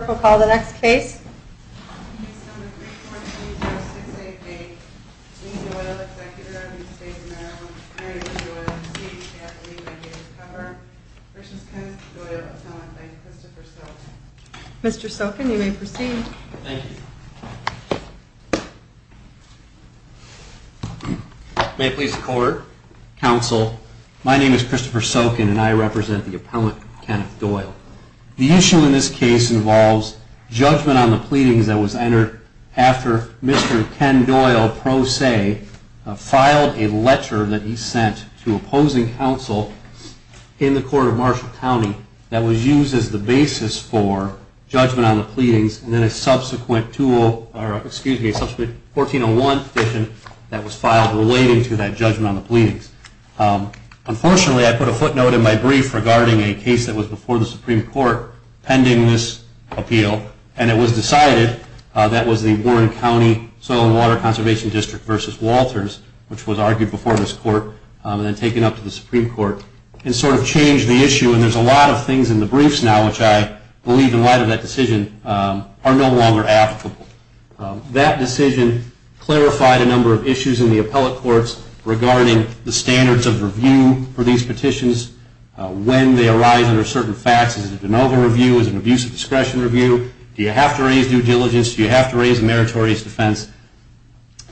We'll call the next case. Mr. Sokin, you may proceed. May it please the court, counsel, my name is Christopher Sokin and I represent the appellant Kenneth Doyle. The issue in this case involves judgment on the pleadings that was entered after Mr. Ken Doyle, pro se, filed a letter that he sent to opposing counsel in the court of Marshall County that was used as the basis for judgment on the pleadings and then a subsequent 1401 petition that was filed relating to that judgment on the pleadings. Unfortunately, I put a footnote in my brief regarding a case that was before the Supreme Court pending this appeal and it was decided that it was the Warren County Soil and Water Conservation District v. Walters which was argued before this court and then taken up to the Supreme Court and sort of changed the issue and there's a lot of things in the briefs now which I believe in light of that decision are no longer applicable. That decision clarified a number of issues in the appellate courts regarding the standards of review for these petitions, when they arise under certain facts, is it an over-review, is it an abuse of discretion review, do you have to raise due diligence, do you have to raise a meritorious defense,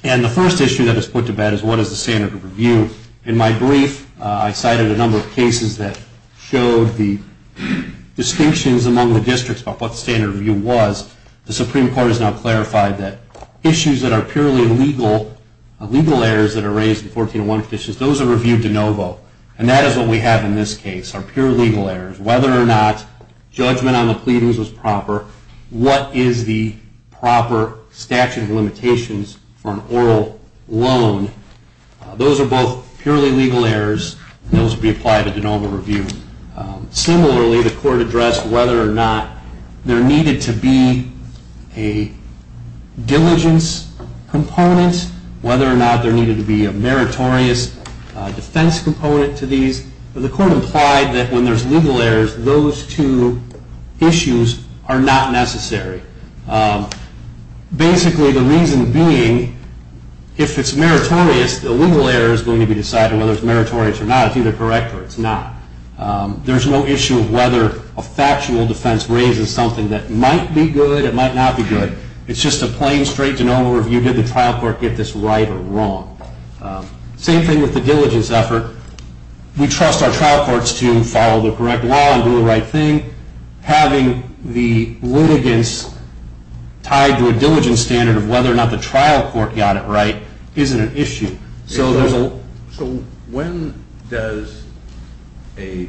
and the first issue that is put to bed is what is the standard of review. In my brief, I cited a number of cases that showed the distinctions among the districts about what the standard of review was. The Supreme Court has now clarified that issues that are purely legal errors that are raised in 1401 petitions, those are reviewed de novo and that is what we have in this case, are pure legal errors. Whether or not judgment on the pleadings was proper, what is the proper statute of limitations for an oral loan. Those are both purely legal errors and those would be applied to de novo review. Similarly, the court addressed whether or not there needed to be a diligence component, whether or not there needed to be a meritorious defense component to these. The court implied that when there's legal errors, those two issues are not necessary. Basically, the reason being, if it's meritorious, the legal error is going to be decided whether it's meritorious or not, it's either correct or it's not. There's no issue of whether a factual defense raises something that might be good, it might not be good. It's just a plain straight de novo review, did the trial court get this right or wrong. Same thing with the diligence effort. We trust our trial courts to follow the correct law and do the right thing. Having the litigants tied to a diligence standard of whether or not the trial court got it right isn't an issue. So there's a- So when does the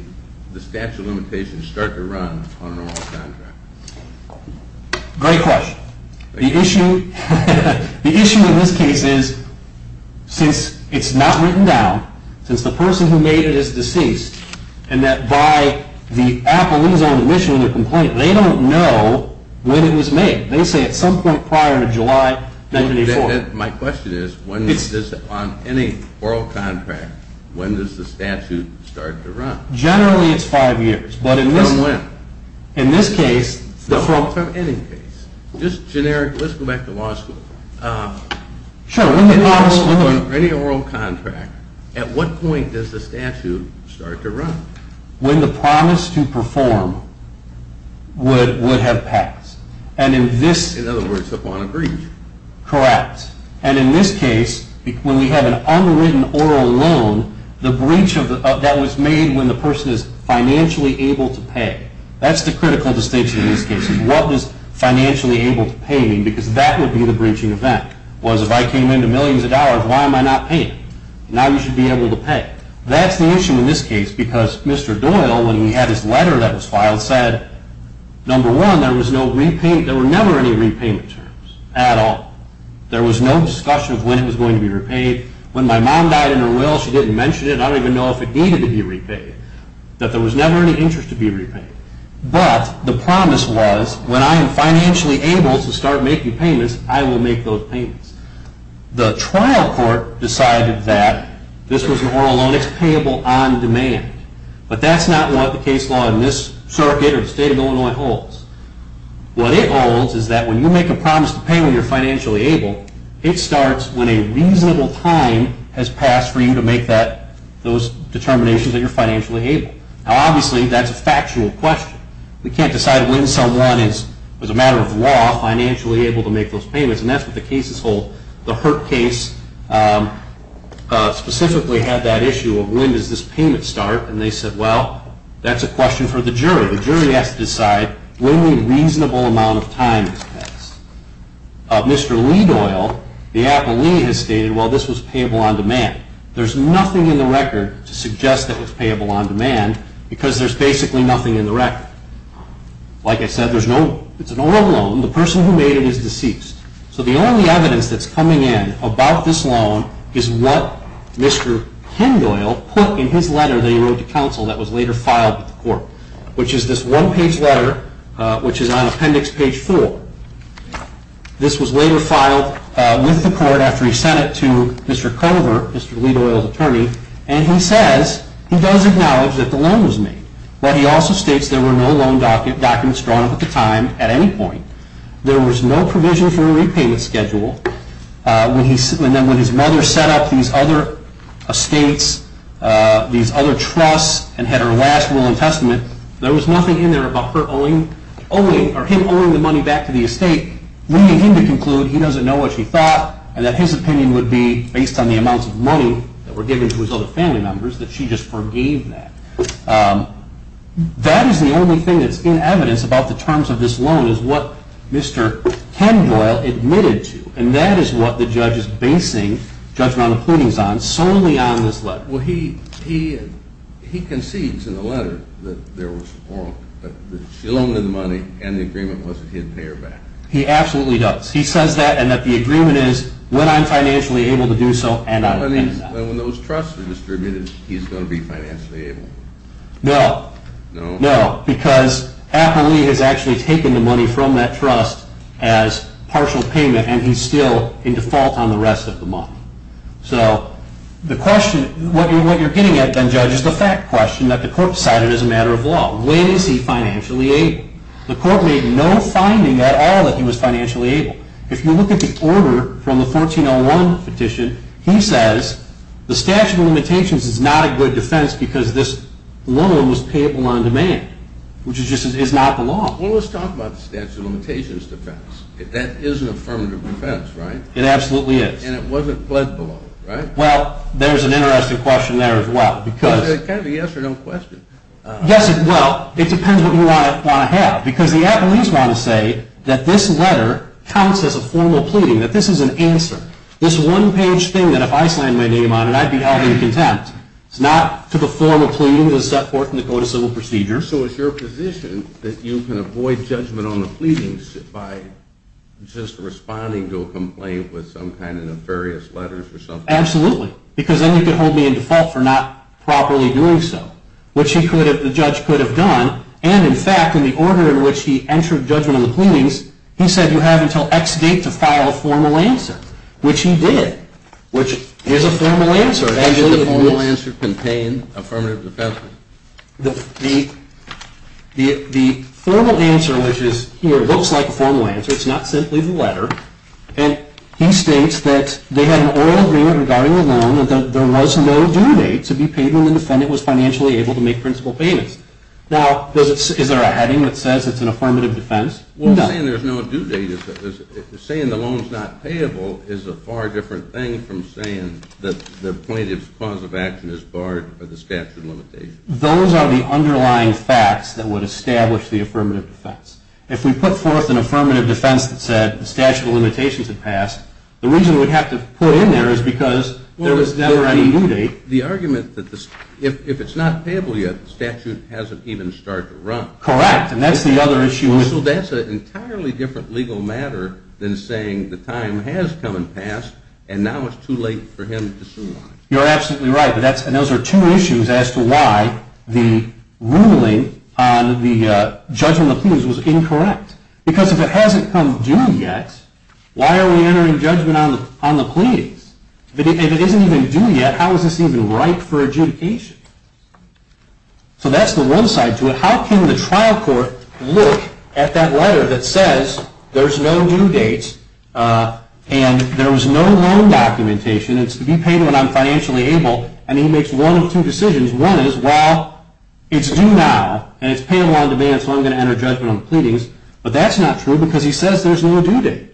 statute of limitations start to run on an oral contract? Great question. The issue in this case is, since it's not written down, since the person who made it is deceased, and that by the appellee's own admission of the complaint, they don't know when it was made. They say at some point prior to July 1994. My question is, on any oral contract, when does the statute start to run? Generally, it's five years, but in this case- From when? In this case- No, from any case. Just generic, let's go back to law school. Sure, when the promise- On any oral contract, at what point does the statute start to run? When the promise to perform would have passed. And in this- In other words, upon a breach. Correct. And in this case, when we have an unwritten oral loan, that was made when the person is financially able to pay. That's the critical distinction in this case, is what does financially able to pay mean? Because that would be the breaching event, was if I came into millions of dollars, why am I not paying? Now you should be able to pay. That's the issue in this case, because Mr. Doyle, when he had his letter that was filed, said, number one, there were never any repayment terms at all. There was no discussion of when it was going to be repaid. When my mom died in her will, she didn't mention it. I don't even know if it needed to be repaid, that there was never any interest to be repaid. But the promise was, when I am financially able to start making payments, I will make those payments. The trial court decided that this was an oral loan, it's payable on demand. But that's not what the case law in this circuit or the state of Illinois holds. What it holds is that when you make a promise to pay when you're financially able, it starts when a reasonable time has passed for you to make those determinations that you're financially able. Now obviously, that's a factual question. We can't decide when someone is, as a matter of law, financially able to make those payments. And that's what the cases hold. The Hurt case specifically had that issue of when does this payment start? And they said, well, that's a question for the jury. The jury has to decide when a reasonable amount of time has passed. Mr. Lee Doyle, the appellee, has stated, well, this was payable on demand. There's nothing in the record to suggest that it was payable on demand, because there's basically nothing in the record. Like I said, it's an oral loan. The person who made it is deceased. So the only evidence that's coming in about this loan is what Mr. Hind Doyle put in his letter that he wrote to counsel that was later filed with the court. Which is this one page letter, which is on appendix page four. This was later filed with the court after he sent it to Mr. Culver, Mr. Lee Doyle's attorney, and he says, he does acknowledge that the loan was made. But he also states there were no loan documents drawn up at the time, at any point. There was no provision for a repayment schedule, and then when his mother set up these other estates, these other trusts, and had her last will and testament, there was nothing in there about her owing, or the estate, leading him to conclude he doesn't know what she thought, and that his opinion would be, based on the amounts of money that were given to his other family members, that she just forgave that. That is the only thing that's in evidence about the terms of this loan, is what Mr. Ken Doyle admitted to, and that is what the judge is basing judgmental cleanings on, solely on this letter. Well, he concedes in the letter that there was wrong, that she loaned him the money, and the agreement was that he'd pay her back. He absolutely does. He says that, and that the agreement is, when I'm financially able to do so, and I'll pay it back. But when those trusts are distributed, he's going to be financially able. No. No? No, because Apple Lee has actually taken the money from that trust as partial payment, and he's still in default on the rest of the money. So, the question, what you're getting at, then, judge, is the fact question that the court decided as a matter of law. When is he financially able? The court made no finding at all that he was financially able. If you look at the order from the 1401 petition, he says, the statute of limitations is not a good defense because this loan was payable on demand, which is just, is not the law. Well, let's talk about the statute of limitations defense. That is an affirmative defense, right? It absolutely is. And it wasn't pled below, right? Well, there's an interesting question there, as well, because- It's kind of a yes or no question. Yes, it will. It depends what you want to have, because the Apple Lee's want to say that this letter counts as a formal pleading, that this is an answer. This one-page thing that if I signed my name on it, I'd be held in contempt. It's not to perform a pleading of the court in the Code of Civil Procedure. So it's your position that you can avoid judgment on the pleadings by just responding to a complaint with some kind of nefarious letters or something? Absolutely, because then you could hold me in default for not properly doing so, which the judge could have done. And in fact, in the order in which he entered judgment on the pleadings, he said you have until X date to file a formal answer, which he did, which is a formal answer. So does the formal answer contain affirmative defense? The formal answer, which is here, looks like a formal answer. It's not simply the letter. And he states that they had an oral agreement regarding the loan and that there was no due date to be paid when the defendant was financially able to make principal payments. Now, is there a heading that says it's an affirmative defense? No. Saying there's no due date, saying the loan's not payable, is a far different thing from saying that the plaintiff's cause of action is barred by the statute of limitations. Those are the underlying facts that would establish the affirmative defense. If we put forth an affirmative defense that said the statute of limitations had passed, the reason we'd have to put it in there is because there was never any due date. The argument that if it's not payable yet, the statute hasn't even started to run. Correct. And that's the other issue. So that's an entirely different legal matter than saying the time has come and passed, and now it's too late for him to sue on it. You're absolutely right. And those are two issues as to why the ruling on the judgment of the pleas was incorrect. Because if it hasn't come due yet, why are we entering judgment on the pleas? If it isn't even due yet, how is this even right for adjudication? So that's the one side to it. How can the trial court look at that letter that says there's no due date, and there was no loan documentation, it's to be paid when I'm financially able, and he makes one of two decisions. One is, well, it's due now, and it's payable on demand, so I'm going to enter judgment on the pleadings. But that's not true, because he says there's no due date.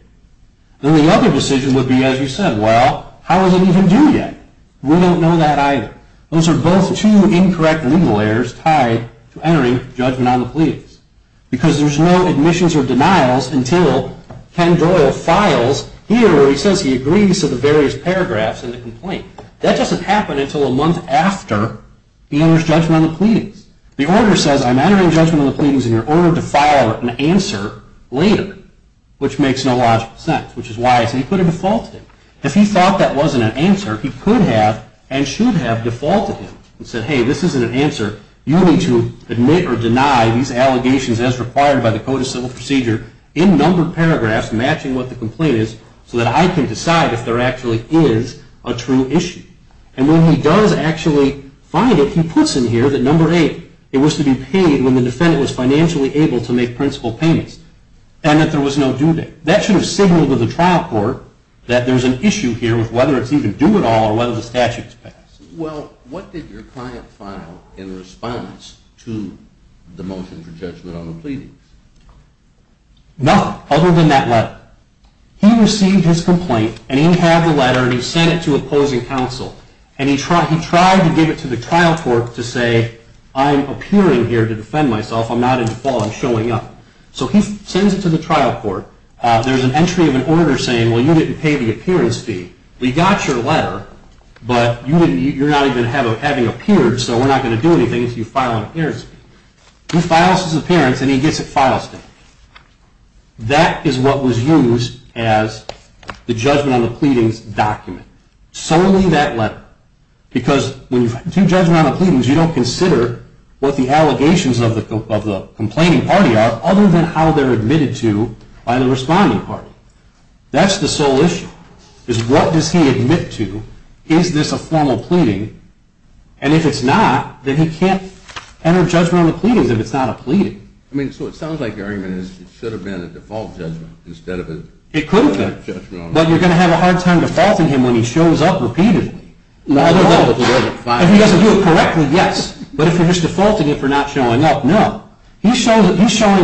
Then the other decision would be, as you said, well, how is it even due yet? We don't know that either. Those are both two incorrect legal errors tied to entering judgment on the pleadings. Because there's no admissions or denials until Ken Doyle files here, where he says he agrees to the various paragraphs in the complaint. That doesn't happen until a month after he enters judgment on the pleadings. The order says I'm entering judgment on the pleadings, and you're ordered to file an answer later, which makes no logical sense, which is why I said he could have defaulted. If he thought that wasn't an answer, he could have and should have defaulted and said, hey, this isn't an answer. You need to admit or deny these allegations as required by the Code of Civil Procedure in numbered paragraphs matching what the complaint is so that I can decide if there actually is a true issue. And when he does actually find it, he puts in here that number eight, it was to be paid when the defendant was financially able to make principal payments, and that there was no due date. That should have signaled to the trial court that there's an issue here with whether it's even due at all or whether the statute's passed. Well, what did your client file in response to the motion for judgment on the pleadings? Nothing other than that letter. He received his complaint, and he had the letter, and he sent it to opposing counsel. And he tried to give it to the trial court to say, I'm appearing here to defend myself. I'm not in default. I'm showing up. So he sends it to the trial court. There's an entry of an order saying, well, you didn't pay the appearance fee. We got your letter, but you're not even having appeared, so we're not going to do anything if you file an appearance fee. He files his appearance, and he gets a file statement. That is what was used as the judgment on the pleadings document, solely that letter. Because when you do judgment on the pleadings, you don't consider what the allegations of the complaining party are. Other than how they're admitted to by the responding party. That's the sole issue, is what does he admit to? Is this a formal pleading? And if it's not, then he can't enter judgment on the pleadings if it's not a pleading. I mean, so it sounds like your argument is it should have been a default judgment instead of a. It could have been, but you're going to have a hard time defaulting him when he shows up repeatedly. If he doesn't do it correctly, yes, but if you're just defaulting him for not showing up, no. He's showing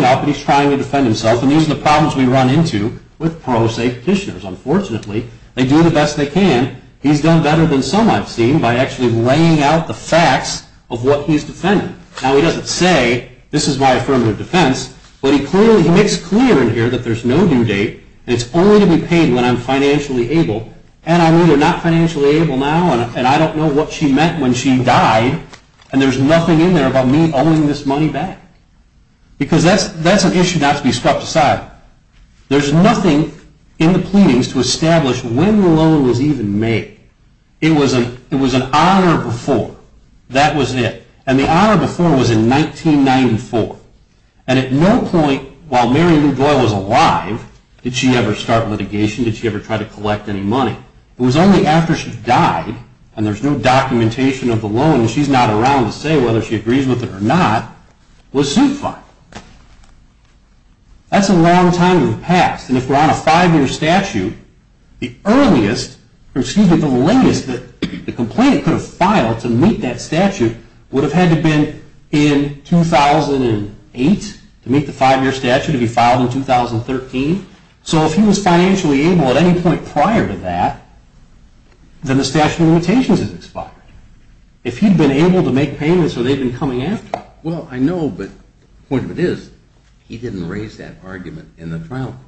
up, and he's trying to defend himself, and these are the problems we run into with pro se petitioners. Unfortunately, they do the best they can. He's done better than some I've seen by actually laying out the facts of what he's defending. Now, he doesn't say, this is my affirmative defense, but he makes clear in here that there's no due date, and it's only to be paid when I'm financially able. And I'm either not financially able now, and I don't know what she meant when she died, and there's nothing in there about me owing this money back, because that's an issue not to be swept aside. There's nothing in the pleadings to establish when the loan was even made. It was an honor before. That was it, and the honor before was in 1994, and at no point while Mary Lou Doyle was alive, did she ever start litigation, did she ever try to collect any money. It was only after she died, and there's no documentation of the loan, and she's not around to say whether she agrees with it or not, was suit filed. That's a long time in the past, and if we're on a five-year statute, the earliest, or excuse me, the latest that the complainant could have filed to meet that statute would have had to have been in 2008 to meet the five-year statute, to be filed in 2013. So if he was financially able at any point prior to that, then the statute of limitations is expired. If he'd been able to make payments or they'd been coming after him. Well, I know, but the point of it is he didn't raise that argument in the trial.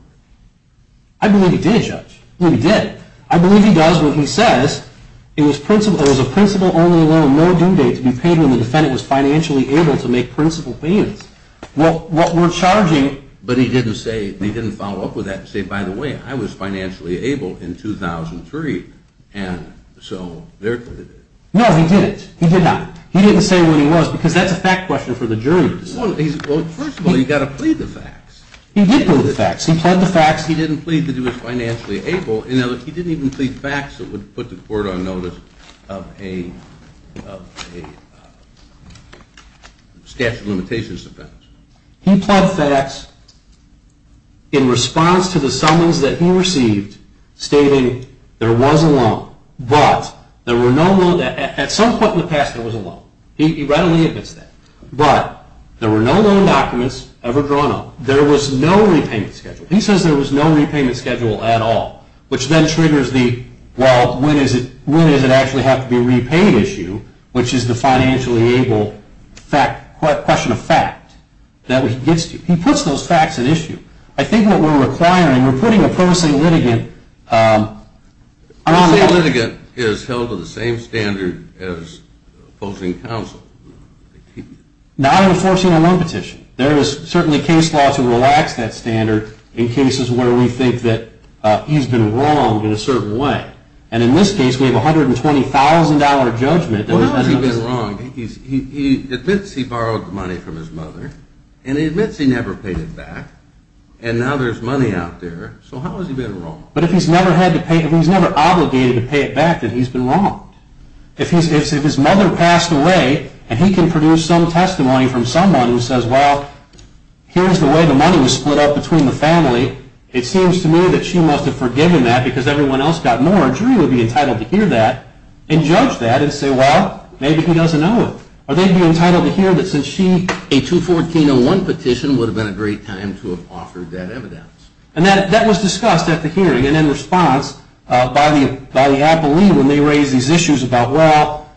I believe he did, Judge. I believe he did. I believe he does when he says it was a principal-only loan, no due date to be paid when the defendant was financially able to make principal payments. Well, what we're charging. But he didn't say, he didn't follow up with that and say, by the way, I was financially able in 2003. And so, there it is. No, he didn't. He did not. He didn't say when he was, because that's a fact question for the jury to decide. Well, first of all, you've got to plead the facts. He did plead the facts. He pled the facts. He didn't plead that he was financially able. He didn't even plead facts that would put the court on notice of a statute of limitations offense. He pled facts in response to the summons that he received stating there was a loan, but there were no loans, at some point in the past, there was a loan. He readily admits that. But there were no loan documents ever drawn up. There was no repayment schedule. Which then triggers the, well, when does it actually have to be a repaid issue, which is the financially able question of fact that he gets to. He puts those facts at issue. I think what we're requiring, we're putting a promising litigant. A promising litigant is held to the same standard as opposing counsel. Not enforcing a loan petition. There is certainly case law to relax that standard in cases where we think that he's been wronged in a certain way. And in this case, we have $120,000 judgment. Well, how has he been wronged? He admits he borrowed the money from his mother, and he admits he never paid it back. And now there's money out there. So how has he been wronged? But if he's never had to pay, if he's never obligated to pay it back, then he's been wronged. If his mother passed away, and he can produce some testimony from someone who says, well, here's the way the money was split up between the family. It seems to me that she must have forgiven that because everyone else got more. A jury would be entitled to hear that and judge that and say, well, maybe he doesn't owe it. Or they'd be entitled to hear that since she, a 214-01 petition, would have been a great time to have offered that evidence. And that was discussed at the hearing. And in response, by the appellee, when they raised these issues about, well,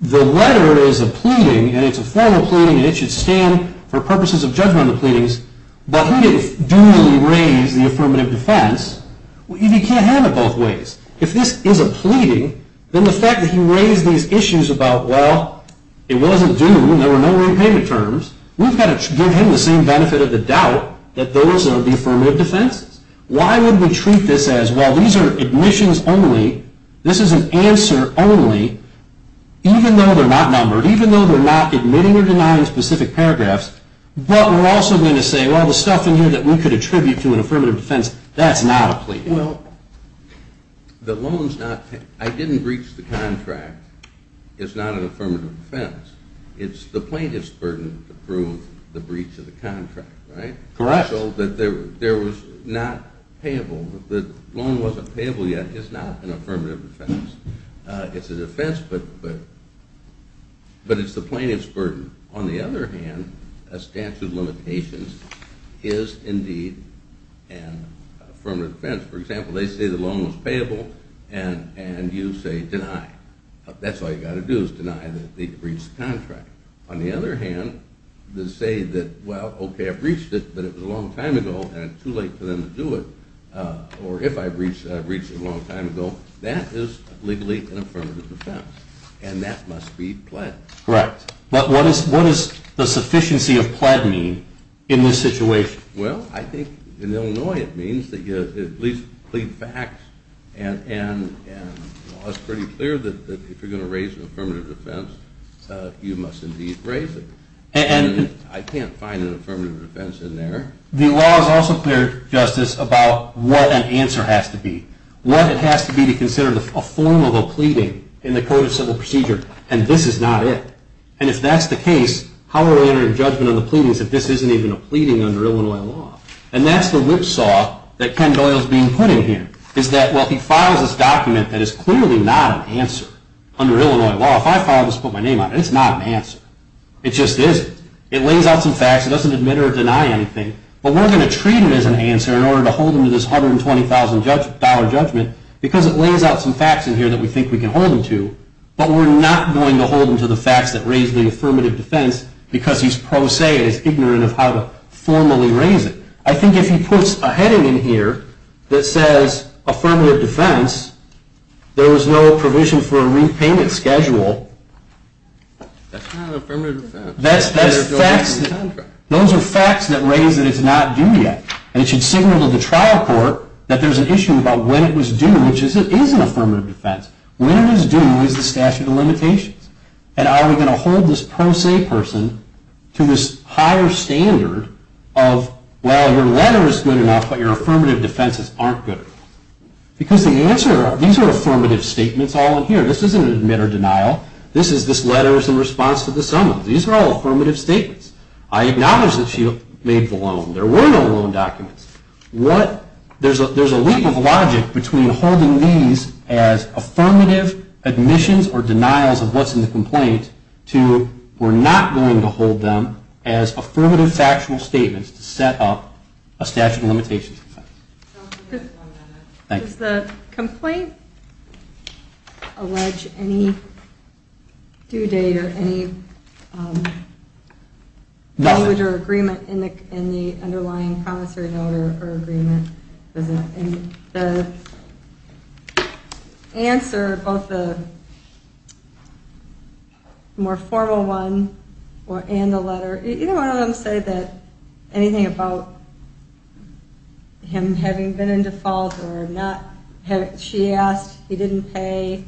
the letter is a pleading, and it's a formal pleading, and it should stand for purposes of judgment of the pleadings, but he didn't duly raise the affirmative defense. He can't have it both ways. If this is a pleading, then the fact that he raised these issues about, well, it wasn't due, and there were no repayment terms, we've got to give him the same benefit of the doubt that those are the affirmative defenses. Why would we treat this as, well, these are admissions only. This is an answer only, even though they're not numbered, even though they're not admitting or denying specific paragraphs. But we're also going to say, well, the stuff in here that we could attribute to an affirmative defense, that's not a pleading. Well, the loan's not, I didn't breach the contract. It's not an affirmative defense. It's the plaintiff's burden to prove the breach of the contract, right? Correct. So that there was not payable. The loan wasn't payable yet. It's not an affirmative defense. It's a defense, but it's the plaintiff's burden. On the other hand, a statute of limitations is indeed an affirmative defense. For example, they say the loan was payable, and you say deny. That's all you've got to do is deny that they breached the contract. On the other hand, to say that, well, okay, I breached it, but it was a long time ago, and it's too late for them to do it, or if I breached it a long time ago, that is legally an affirmative defense, and that must be pled. Correct. But what does the sufficiency of pled mean in this situation? Well, I think in Illinois, it means that you at least plead facts, and it's pretty clear that if you're going to raise an affirmative defense, you must indeed raise it. And I can't find an affirmative defense in there. The law is also clear, Justice, about what an answer has to be, what it has to be to consider a form of a pleading in the Code of Civil Procedure, and this is not it. And if that's the case, how are we going to enter judgment on the pleadings if this isn't even a pleading under Illinois law? And that's the whipsaw that Ken Doyle is being put in here, is that while he files this document that is clearly not an answer under Illinois law, if I file this and put my name on it, it's not an answer. It just isn't. It lays out some facts. It doesn't admit or deny anything. But we're going to treat it as an answer in order to hold him to this $120,000 judgment, because it lays out some facts in here that we think we can hold him to, but we're not going to hold him to the facts that raise the affirmative defense, because he's pro se, and he's ignorant of how to formally raise it. I think if he puts a heading in here that says affirmative defense, there was no provision for a repayment schedule, that's not an affirmative defense. That's facts. Those are facts that raise that it's not due yet. And it should signal to the trial court that there's an issue about when it was due, which is it is an affirmative defense. When it is due is the statute of limitations. And are we going to hold this pro se person to this higher standard of, well, your letter is good enough, but your affirmative defenses aren't good. Because the answer, these are affirmative statements all in here. This isn't an admit or denial. This is this letter's in response to the summons. These are all affirmative statements. I acknowledge that she made the loan. There were no loan documents. There's a leap of logic between holding these as affirmative admissions or denials of what's in the complaint to we're not going to hold them as affirmative factual statements to set up a statute of limitations defense. Thank you. Does the complaint allege any due date or any language or agreement in the underlying promissory note or agreement? Does the answer, both the more formal one and the letter, either one of them say that anything about him having been in default or not, she asked, he didn't pay,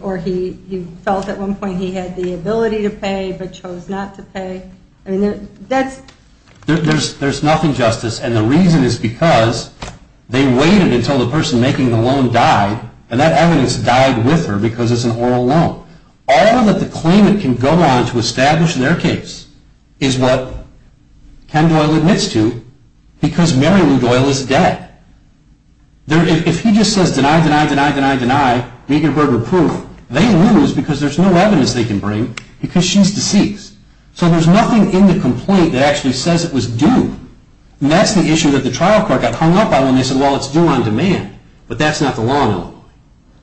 or he felt at one point he had the ability to pay but chose not to pay. I mean, that's. There's nothing, Justice. And the reason is because they waited until the person making the loan died. And that evidence died with her because it's an oral loan. All that the claimant can go on to establish in their case is what Ken Doyle admits to because Mary Lou Doyle is dead. If he just says, deny, deny, deny, deny, deny, Degenberger proof, they lose because there's no evidence they can bring because she's deceased. So there's nothing in the complaint that actually says it was due. And that's the issue that the trial court got hung up on when they said, well, it's due on demand. But that's not the law in Illinois.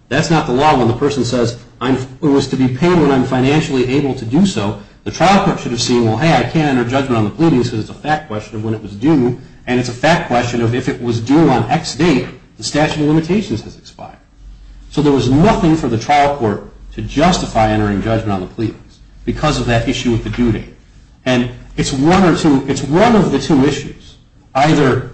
That's not the law when the person says, it was to be paid when I'm financially able to do so. The trial court should have seen, well, hey, I can't enter judgment on the pleadings because it's a fact question of when it was due. And it's a fact question of if it was due on X date, the statute of limitations has expired. So there was nothing for the trial court to justify entering judgment on the pleadings because of that issue with the due date. And it's one of the two issues, either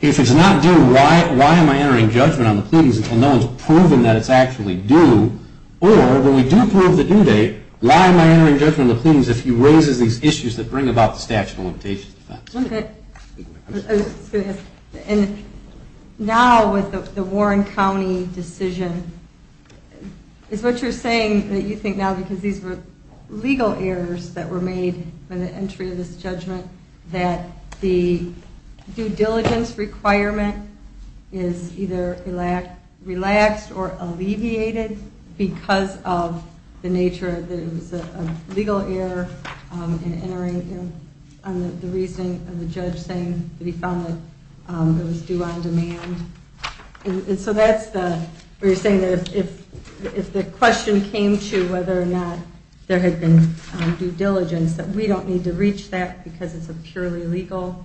if it's not due, why am I entering judgment on the pleadings until no one's proven that it's actually due? Or when we do prove the due date, why am I entering judgment on the pleadings if he raises these issues that bring about the statute of limitations defense? And now with the Warren County decision, is what you're saying that you think now because these were legal errors that were made by the entry of this judgment that the due diligence requirement is either relaxed or alleviated because of the nature of the legal error in entering on the reasoning of the judge saying that he found that it was due on demand? And so that's the, you're saying that if the question came to whether or not there had been due diligence, that we don't need to reach that because it's a purely legal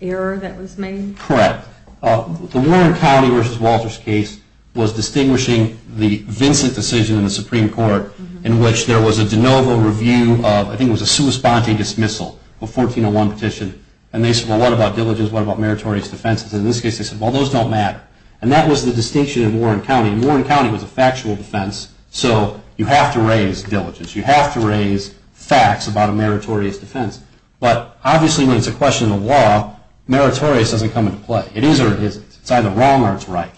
error that was made? Correct. The Warren County versus Walters case was distinguishing the Vincent decision in the Supreme Court in which there was a de novo review of, I think it was a sua sponte dismissal, a 1401 petition. And they said, well, what about diligence? What about meritorious defenses? In this case, they said, well, those don't matter. And that was the distinction in Warren County. Warren County was a factual defense. So you have to raise diligence. You have to raise facts about a meritorious defense. But obviously, when it's a question of law, meritorious doesn't come into play. It is or it isn't. It's either wrong or it's right.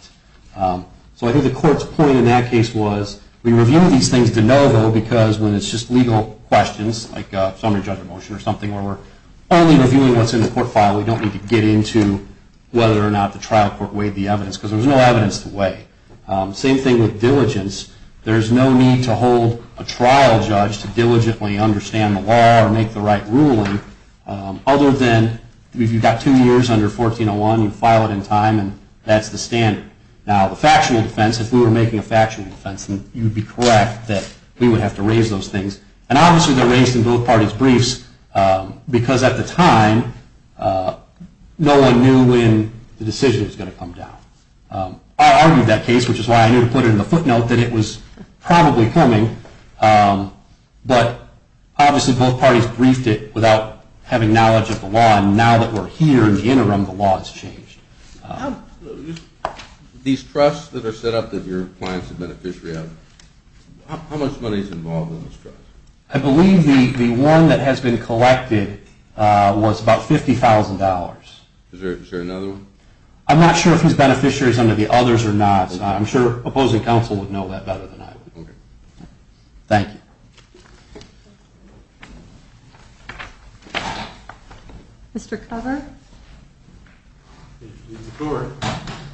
So I think the court's point in that case was we review these things de novo because when it's just legal questions, like a summary judgment motion or something where we're only reviewing what's in the court file, we don't need to get into whether Same thing with diligence. There's no need to hold a trial judge to diligently understand the law or make the right ruling other than if you've got two years under 1401, you file it in time, and that's the standard. Now, the factual defense, if we were making a factual defense, then you'd be correct that we would have to raise those things. And obviously, they're raised in both parties' briefs because at the time, no one knew when the decision was going to come down. I argued that case, which is why I didn't put it in the footnote, that it was probably coming. But obviously, both parties briefed it without having knowledge of the law. And now that we're here in the interim, the law has changed. These trusts that are set up that your clients have beneficiary of, how much money is involved in those trusts? I believe the one that has been collected was about $50,000. Is there another one? I'm not sure if he's beneficiary of some of the others or not. I'm sure opposing counsel would know that better than I would. Thank you. Mr. Cover? Mr. Court,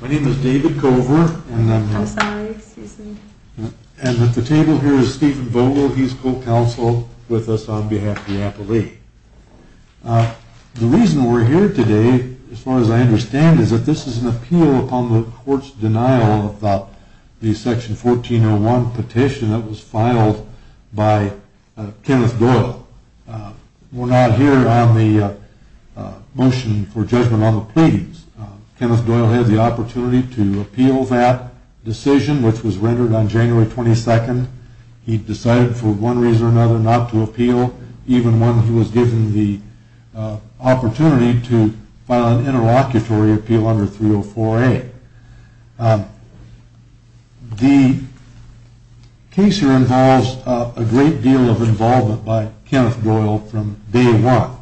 my name is David Cover, and I'm the table here is Stephen Vogel. He's co-counsel with us on behalf of the appellee. The reason we're here today, as far as I understand, is that this is an appeal upon the court's denial of the Section 1401 petition that was filed by Kenneth Doyle. We're not here on the motion for judgment on the pleadings. Kenneth Doyle had the opportunity to appeal that decision, which was rendered on January 22nd. He decided for one reason or another not to appeal, even when he was given the opportunity to file an interlocutory appeal under 304A. The case here involves a great deal of involvement by Kenneth Doyle from day one.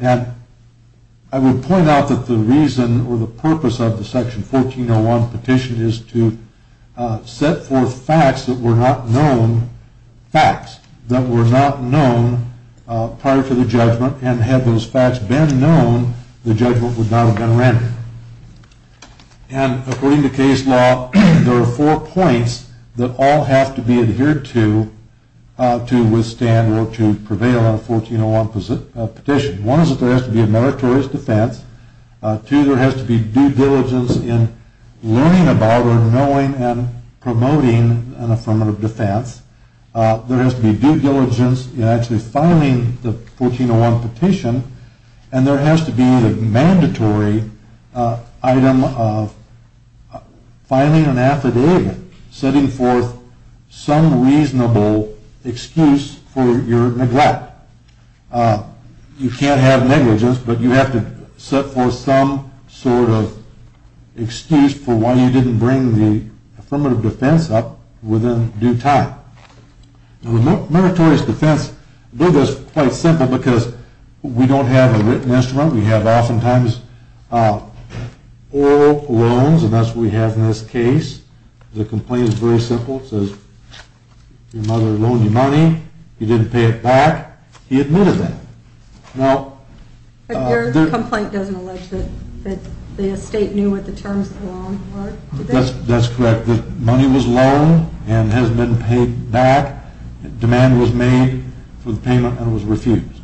And I would point out that the reason or the purpose of the Section 1401 petition is to set forth facts that were not known prior to the judgment. And had those facts been known, the judgment would not have been rendered. And according to case law, there are four points that all have to be adhered to to withstand or to prevail on a 1401 petition. One is that there has to be a meritorious defense. Two, there has to be due diligence in learning about or knowing and promoting an affirmative defense. There has to be due diligence in actually filing the 1401 petition. And there has to be a mandatory item of filing an affidavit, setting forth some reasonable excuse for your neglect. You can't have negligence, but you have to set forth some sort of excuse for why you didn't bring the affirmative defense up within due time. The meritorious defense is quite simple because we don't have a written instrument. We have oftentimes oral loans, and that's what we have in this case. The complaint is very simple. It says, your mother loaned you money. You didn't pay it back. He admitted that. Now, But your complaint doesn't allege that the estate knew what the terms of the loan were? That's correct. The money was loaned and has been paid back. Demand was made for the payment and was refused.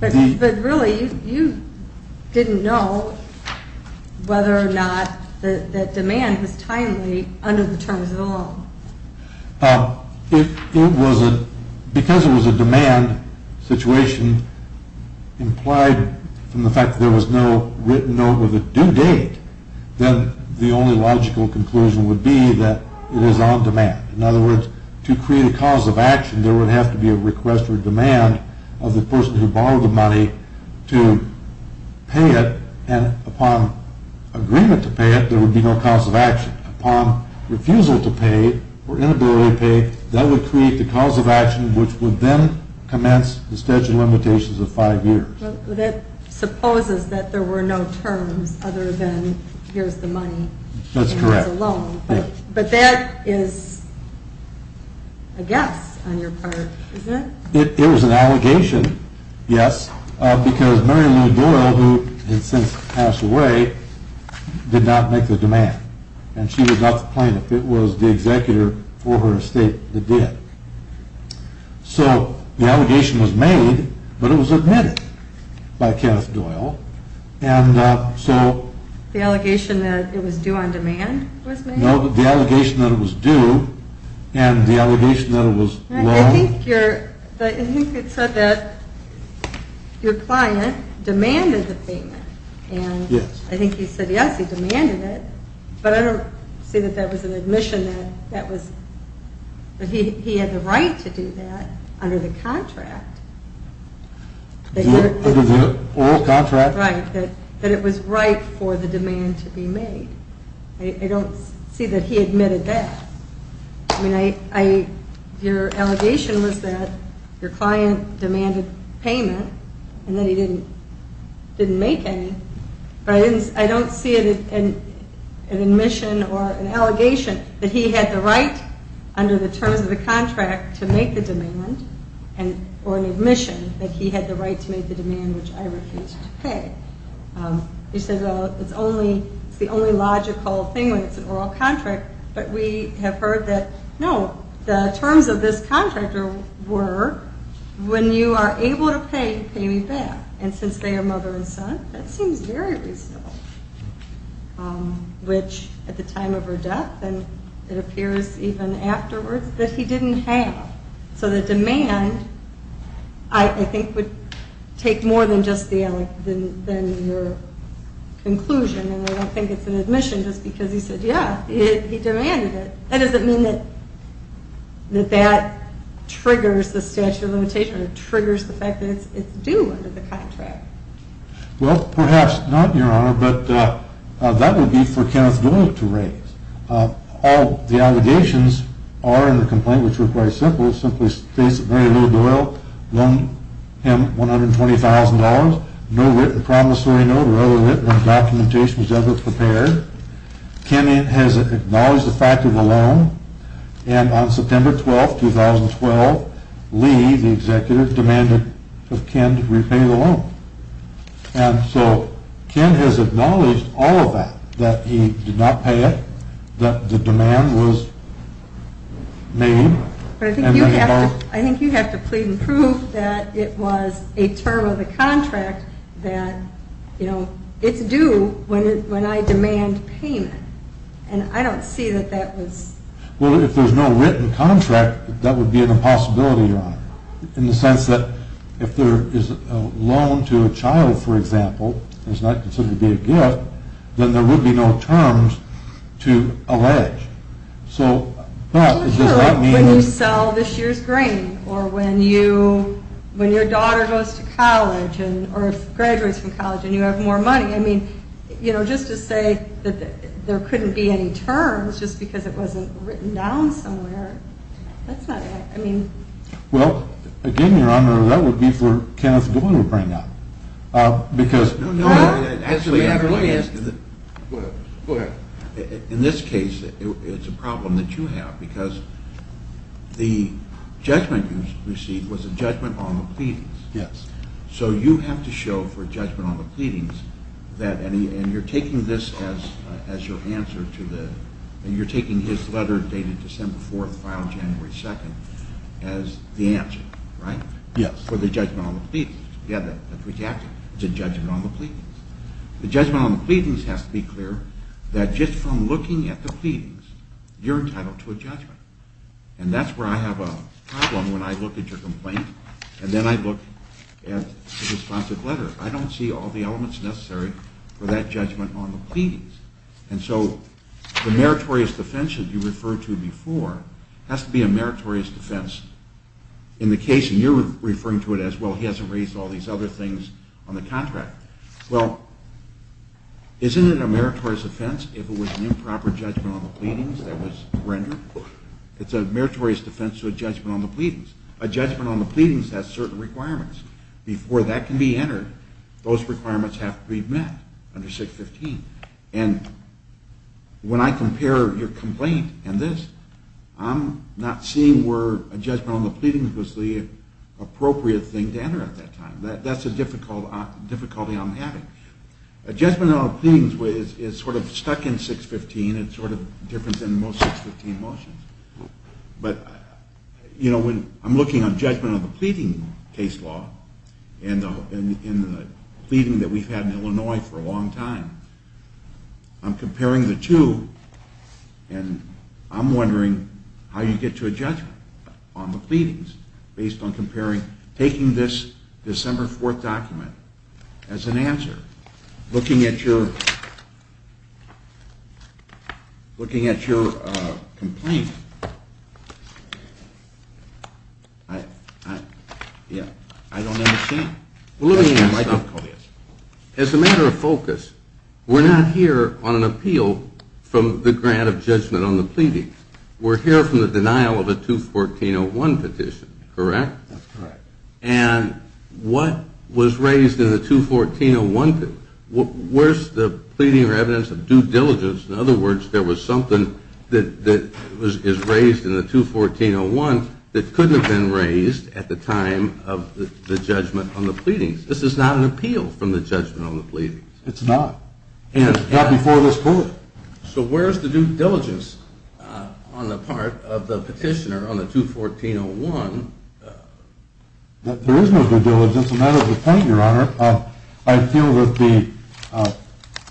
But really, you didn't know whether or not that demand was timely under the terms of the loan. If it wasn't, because it was a demand situation implied from the fact that there was no written note with a due date, then the only logical conclusion would be that it is on demand. In other words, to create a cause of action, there would have to be a request for demand of the person who borrowed the money to pay it. And upon agreement to pay it, there would be no cause of action. Upon refusal to pay or inability to pay, that would create the cause of action, which would then commence the statute of limitations of five years. That supposes that there were no terms other than here's the money. That's correct. It's a loan. But that is a guess on your part, isn't it? It was an allegation, yes, because Mary Lou Doyle, who has since passed away, did not make the demand. And she was not the plaintiff. It was the executor for her estate that did. So the allegation was made, but it was admitted by Kenneth Doyle. And so... The allegation that it was due on demand was made? No, the allegation that it was due and the allegation that it was loaned... I think it said that your client demanded the payment. Yes. I think he said yes, he demanded it. But I don't see that that was an admission that that was... That he had the right to do that under the contract. Under the oral contract. Right, that it was right for the demand to be made. I don't see that he admitted that. I mean, your allegation was that your client demanded payment and that he didn't make any. But I don't see an admission or an allegation that he had the right under the terms of the contract to make the demand. Or an admission that he had the right to make the demand, which I refused to pay. He said, well, it's the only logical thing when it's an oral contract. But we have heard that, no, the terms of this contract were, when you are able to pay, pay me back. And since they are mother and son, that seems very reasonable. Which, at the time of her death, and it appears even afterwards, that he didn't have. So the demand, I think, would take more than just your conclusion. And I don't think it's an admission just because he said, yeah, he demanded it. That doesn't mean that that triggers the statute of limitations. Or triggers the fact that it's due under the contract. Well, perhaps not, Your Honor, but that would be for Kenneth Doyle to raise. All the allegations are in the complaint, which were quite simple. It simply states that Mary Lou Doyle loaned him $120,000. No written promissory note or other written documentation was ever prepared. Ken has acknowledged the fact of the loan. And on September 12, 2012, Lee, the executive, demanded of Ken to repay the loan. And so Ken has acknowledged all of that. That he did not pay it. That the demand was made. But I think you have to plead and prove that it was a term of the contract that, you know, it's due when I demand payment. And I don't see that that was... Well, if there's no written contract, that would be an impossibility, Your Honor. In the sense that if there is a loan to a child, for example, and it's not considered to be a gift, then there would be no terms to allege. So that is just not... When you sell this year's grain. Or when your daughter goes to college, or graduates from college, and you have more money. I mean, you know, just to say that there couldn't be any terms just because it wasn't written down somewhere. That's not... I mean... Well, again, Your Honor, that would be for Kenneth Gould to bring up. Because... No, no. Actually, I would like to ask you that... Go ahead. In this case, it's a problem that you have. Because the judgment you received was a judgment on the pleadings. Yes. So you have to show for judgment on the pleadings that any... And you're taking this as your answer to the... And you're taking his letter dated December 4th, filed January 2nd as the answer, right? Yes. For the judgment on the pleadings. Yeah, that's what you have to do. The judgment on the pleadings. The judgment on the pleadings has to be clear that just from looking at the pleadings, you're entitled to a judgment. And that's where I have a problem when I look at your complaint. And then I look at the responsive letter. I don't see all the elements necessary for that judgment on the pleadings. And so the meritorious defense that you referred to before has to be a meritorious defense in the case. And you're referring to it as, well, he hasn't raised all these other things on the contract. Well, isn't it a meritorious defense if it was an improper judgment on the pleadings that was rendered? It's a meritorious defense to a judgment on the pleadings. A judgment on the pleadings has certain requirements. Before that can be entered, those requirements have to be met under 615. And when I compare your complaint and this, I'm not seeing where a judgment on the pleadings was the appropriate thing to enter at that time. That's a difficulty I'm having. A judgment on the pleadings is sort of stuck in 615. It's sort of different than most 615 motions. But, you know, when I'm looking on judgment on the pleading case law and the pleading that we've had in Illinois for a long time, I'm comparing the two, and I'm wondering how you get to a judgment on the pleadings based on comparing taking this December 4th document as an answer, looking at your complaint. As a matter of focus, we're not here on an appeal from the grant of judgment on the pleading. We're here from the denial of a 214.01 petition, correct? That's correct. And what was raised in the 214.01? Where's the pleading or evidence of due diligence? In other words, there was something that was raised in the 214.01 that couldn't have been raised at the time of the judgment on the pleadings. This is not an appeal from the judgment on the pleadings. It's not. Not before this court. So where's the due diligence on the part of the petitioner on the 214.01? There is no due diligence, and that is the point, Your Honor. I feel that the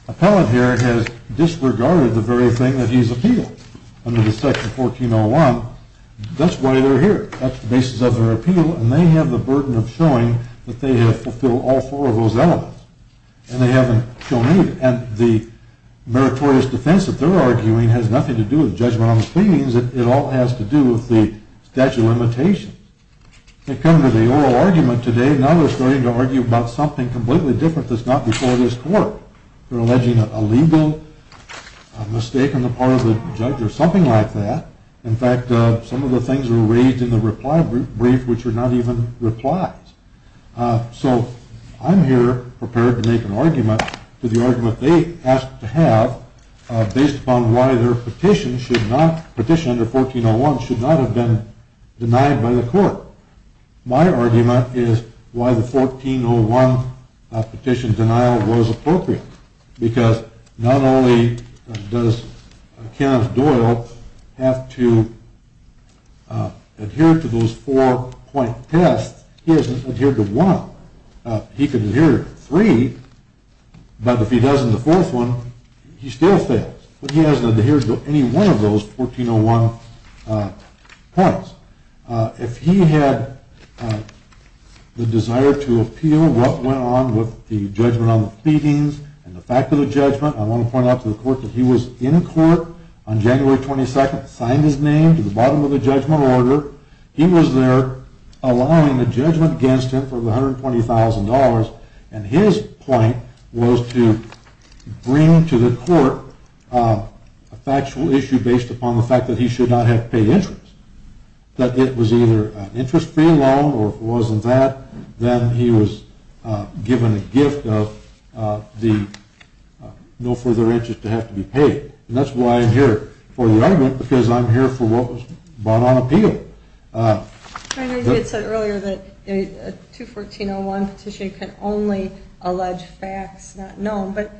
appellate here has disregarded the very thing that he's appealed under the section 14.01. That's why they're here. That's the basis of their appeal, and they have the burden of showing that they have fulfilled all four of those elements, and they haven't shown any of it. And the meritorious defense that they're arguing has nothing to do with judgment on the pleadings. It all has to do with the statute of limitations. They've come to the oral argument today. Now they're starting to argue about something completely different that's not before this court. They're alleging a legal mistake on the part of the judge or something like that. In fact, some of the things were raised in the reply brief which are not even replies. So I'm here prepared to make an argument to the argument they asked to have based upon why their petition should not, petition under 14.01 should not have been denied by the court. My argument is why the 14.01 petition denial was appropriate, because not only does Kenneth Doyle have to adhere to those four-point tests, he hasn't adhered to one. He could adhere to three, but if he doesn't, the fourth one, he still fails. But he hasn't adhered to any one of those 14.01 points. If he had the desire to appeal what went on with the judgment on the pleadings and the fact of the judgment, I want to point out to the court that he was in court on January 22nd, signed his name to the bottom of the judgment order. He was there allowing the judgment against him for the $120,000, and his point was to bring to the court a factual issue based upon the fact that he should not have paid interest. That it was either an interest-free loan or if it wasn't that, then he was given a gift of no further interest to have to be paid. And that's why I'm here for the argument, because I'm here for what was brought on appeal. It said earlier that a 214.01 petition can only allege facts not known, but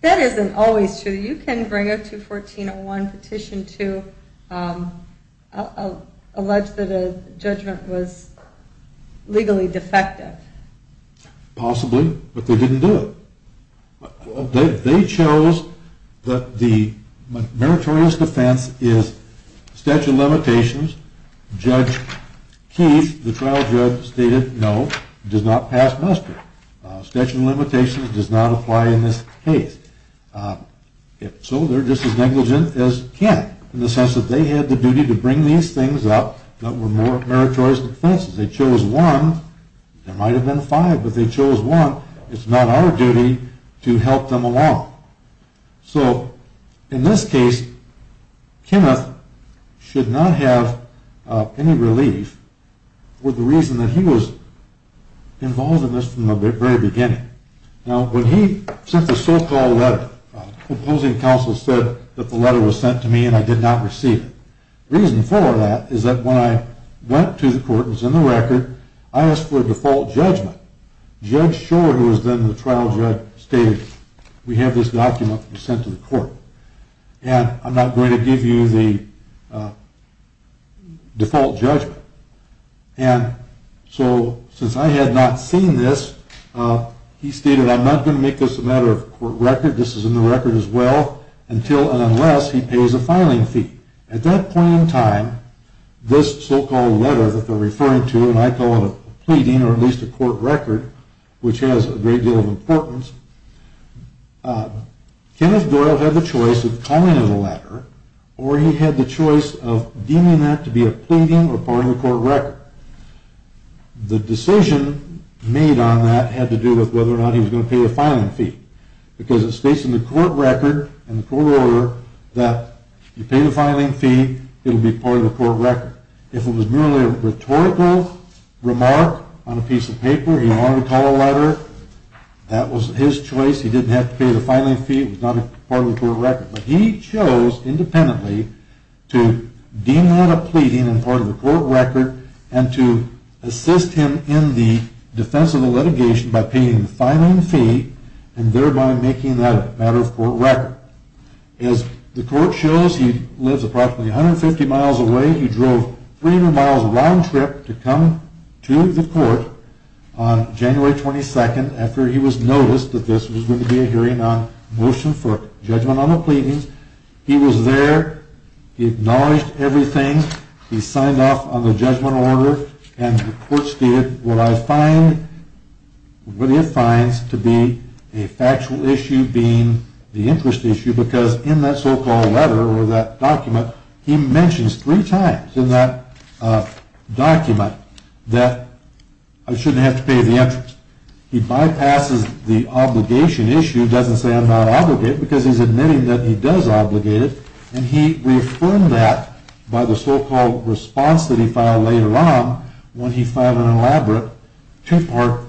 that isn't always true. You can bring a 214.01 petition to allege that a judgment was legally defective. Possibly, but they didn't do it. They chose that the meritorious defense is statute of limitations. Judge Keith, the trial judge, stated no, does not pass muster. Statute of limitations does not apply in this case. So they're just as negligent as can be, in the sense that they had the duty to bring these things up that were more meritorious defenses. They chose one, there might have been five, but they chose one. It's not our duty to help them along. So, in this case, Kenneth should not have any relief with the reason that he was involved in this from the very beginning. Now, when he sent the so-called letter, the opposing counsel said that the letter was sent to me and I did not receive it. The reason for that is that when I went to the court and was in the record, I asked for a default judgment. Judge Shore, who was then the trial judge, stated we have this document that was sent to the court, and I'm not going to give you the default judgment. And so, since I had not seen this, he stated I'm not going to make this a matter of court record, this is in the record as well, until and unless he pays a filing fee. At that point in time, this so-called letter that they're referring to, and I call it a pleading or at least a court record, which has a great deal of importance, Kenneth Doyle had the choice of calling it a letter or he had the choice of deeming that to be a pleading or part of the court record. The decision made on that had to do with whether or not he was going to pay the filing fee. Because it states in the court record and the court order that if you pay the filing fee, it will be part of the court record. If it was merely a rhetorical remark on a piece of paper, he wanted to call it a letter, that was his choice. He didn't have to pay the filing fee, it was not part of the court record. But he chose independently to deem that a pleading and part of the court record and to assist him in the defense of the litigation by paying the filing fee and thereby making that a matter of court record. As the court shows, he lives approximately 150 miles away. He drove 300 miles round trip to come to the court on January 22nd after he was noticed that this was going to be a hearing on motion for judgment on the pleadings. He was there, he acknowledged everything, he signed off on the judgment order and the court stated what it finds to be a factual issue being the interest issue because in that so-called letter or that document, he mentions three times in that document that I shouldn't have to pay the interest. He bypasses the obligation issue, doesn't say I'm not obligated because he's admitting that he does obligate it, and he reaffirmed that by the so-called response that he filed later on when he filed an elaborate two-part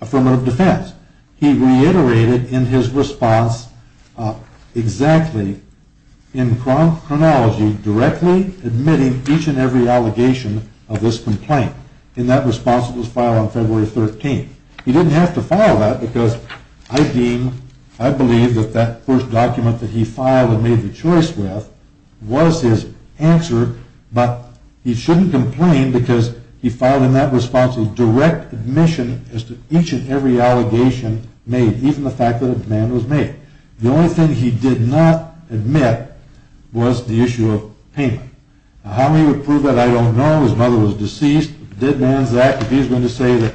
affirmative defense. He reiterated in his response exactly in chronology directly admitting each and every allegation of this complaint. In that response it was filed on February 13th. He didn't have to file that because I believe that that first document that he filed and made the choice with was his answer, but he shouldn't complain because he filed in that response a direct admission as to each and every allegation made, even the fact that a demand was made. The only thing he did not admit was the issue of payment. How he would prove that I don't know, his mother was deceased, did man's act, if he's going to say that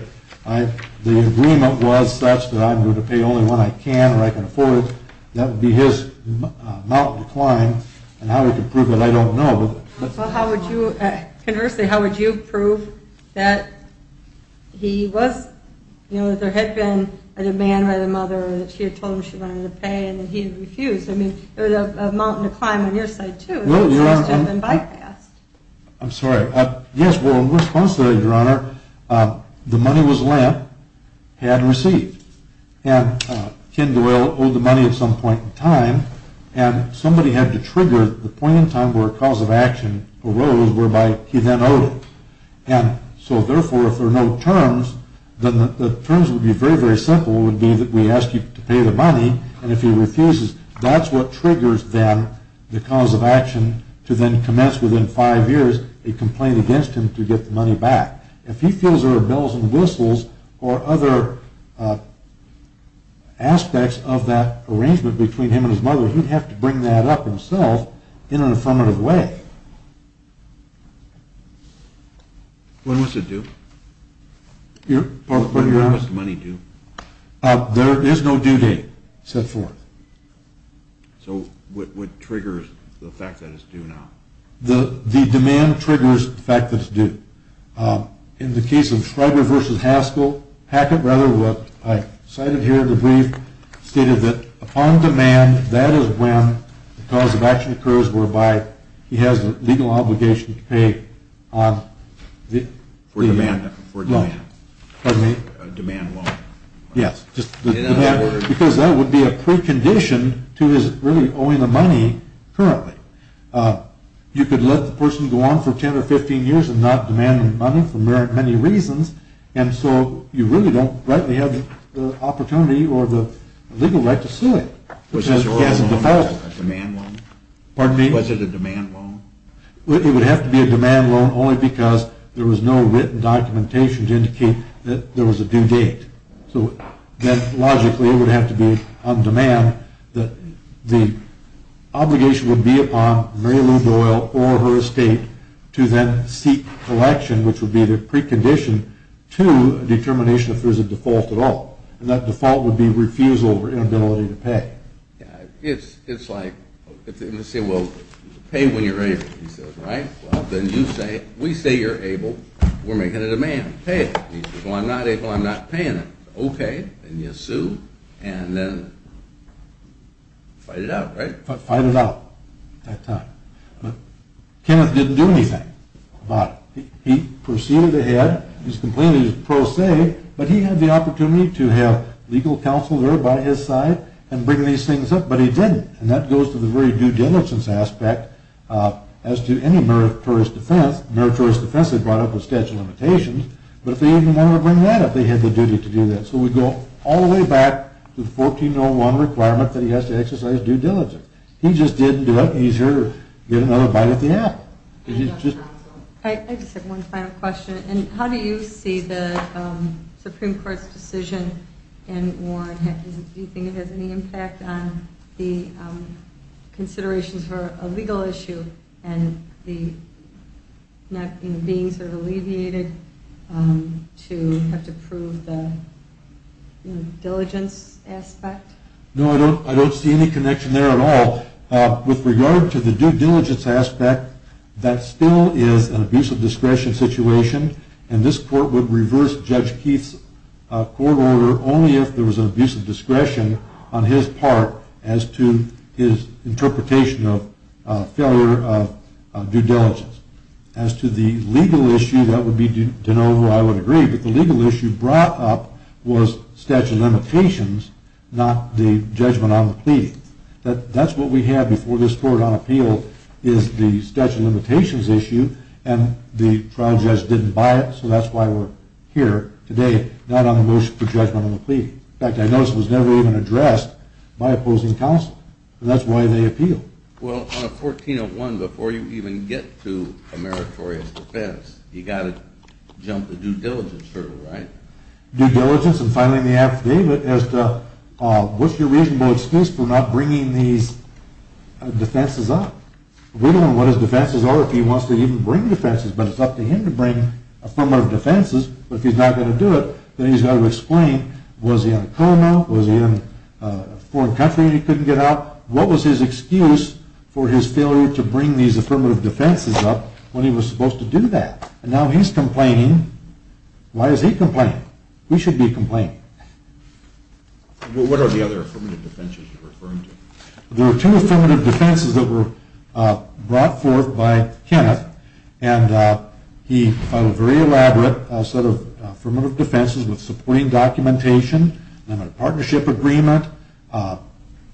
the agreement was such that I'm going to pay only when I can or I can afford it, that would be his mount and decline and how he could prove that I don't know. Well how would you, conversely, how would you prove that he was, you know, that there had been a demand by the mother or that she had told him she wanted him to pay and that he had refused. I mean it was a mount and decline on your side too. I'm sorry, yes well in response to that your honor, the money was lent, had received, and Ken Doyle owed the money at some point in time and somebody had to trigger the point in time where a cause of action arose whereby he then owed it. And so therefore if there are no terms, the terms would be very very simple, it would be that we ask you to pay the money and if he refuses, that's what triggers then the cause of action to then commence within five years a complaint against him to get the money back. If he feels there are bells and whistles or other aspects of that arrangement between him and his mother, he'd have to bring that up himself in an affirmative way. When was it due? When was the money due? There is no due date set forth. So what triggers the fact that it's due now? The demand triggers the fact that it's due. In the case of Schreiber v. Haskell, Hackett rather, what I cited here in the brief, stated that upon demand that is when the cause of action occurs whereby he has the legal obligation to pay on the demand loan. Because that would be a precondition to his really owing the money currently. You could let the person go on for 10 or 15 years and not demand the money for many reasons and so you really don't have the opportunity or the legal right to sue him. Was it a demand loan? It would have to be a demand loan only because there was no written documentation to indicate that there was a due date. So then logically it would have to be on demand that the obligation would be upon Mary Lou Doyle or her estate to then seek election which would be the precondition to a determination if there was a default at all. And that default would be refusal or inability to pay. It's like, let's say, well, pay when you're able, right? Well then you say, we say you're able, we're making a demand, pay it. Well, I'm not able, I'm not paying it. Okay, then you sue and then fight it out, right? Fight it out at that time. Kenneth didn't do anything about it. He proceeded ahead, he was completely pro se, but he had the opportunity to have legal counsel there by his side and bring these things up, but he didn't. And that goes to the very due diligence aspect as to any meritorious defense. Meritorious defense, they brought up the statute of limitations, but if they even wanted to bring that up, they had the duty to do that. So we go all the way back to the 1401 requirement that he has to exercise due diligence. He just didn't do it, he's here to get another bite at the apple. I just have one final question. How do you see the Supreme Court's decision in Warren? Do you think it has any impact on the considerations for a legal issue and the being sort of alleviated to have to prove the diligence aspect? No, I don't see any connection there at all. With regard to the due diligence aspect, that still is an abuse of discretion situation, and this court would reverse Judge Keith's court order only if there was an abuse of discretion on his part as to his interpretation of failure of due diligence. As to the legal issue, that would be to know who I would agree, but the legal issue brought up was statute of limitations, not the judgment on the plea. That's what we have before this court on appeal is the statute of limitations issue, and the trial judge didn't buy it, so that's why we're here today, not on the motion for judgment on the plea. In fact, I noticed it was never even addressed by opposing counsel, and that's why they appeal. Well, on a 1401, before you even get to a meritorious defense, you've got to jump the due diligence hurdle, right? Due diligence and filing the affidavit as to what's your reasonable excuse for not bringing these defenses up? We don't know what his defenses are, if he wants to even bring defenses, but it's up to him to bring affirmative defenses, but if he's not going to do it, then he's got to explain was he in a coma, was he in a foreign country and he couldn't get out? What was his excuse for his failure to bring these affirmative defenses up when he was supposed to do that? And now he's complaining. Why is he complaining? We should be complaining. What are the other affirmative defenses you're referring to? There were two affirmative defenses that were brought forth by Kenneth, and he filed a very elaborate set of affirmative defenses with supporting documentation, a partnership agreement,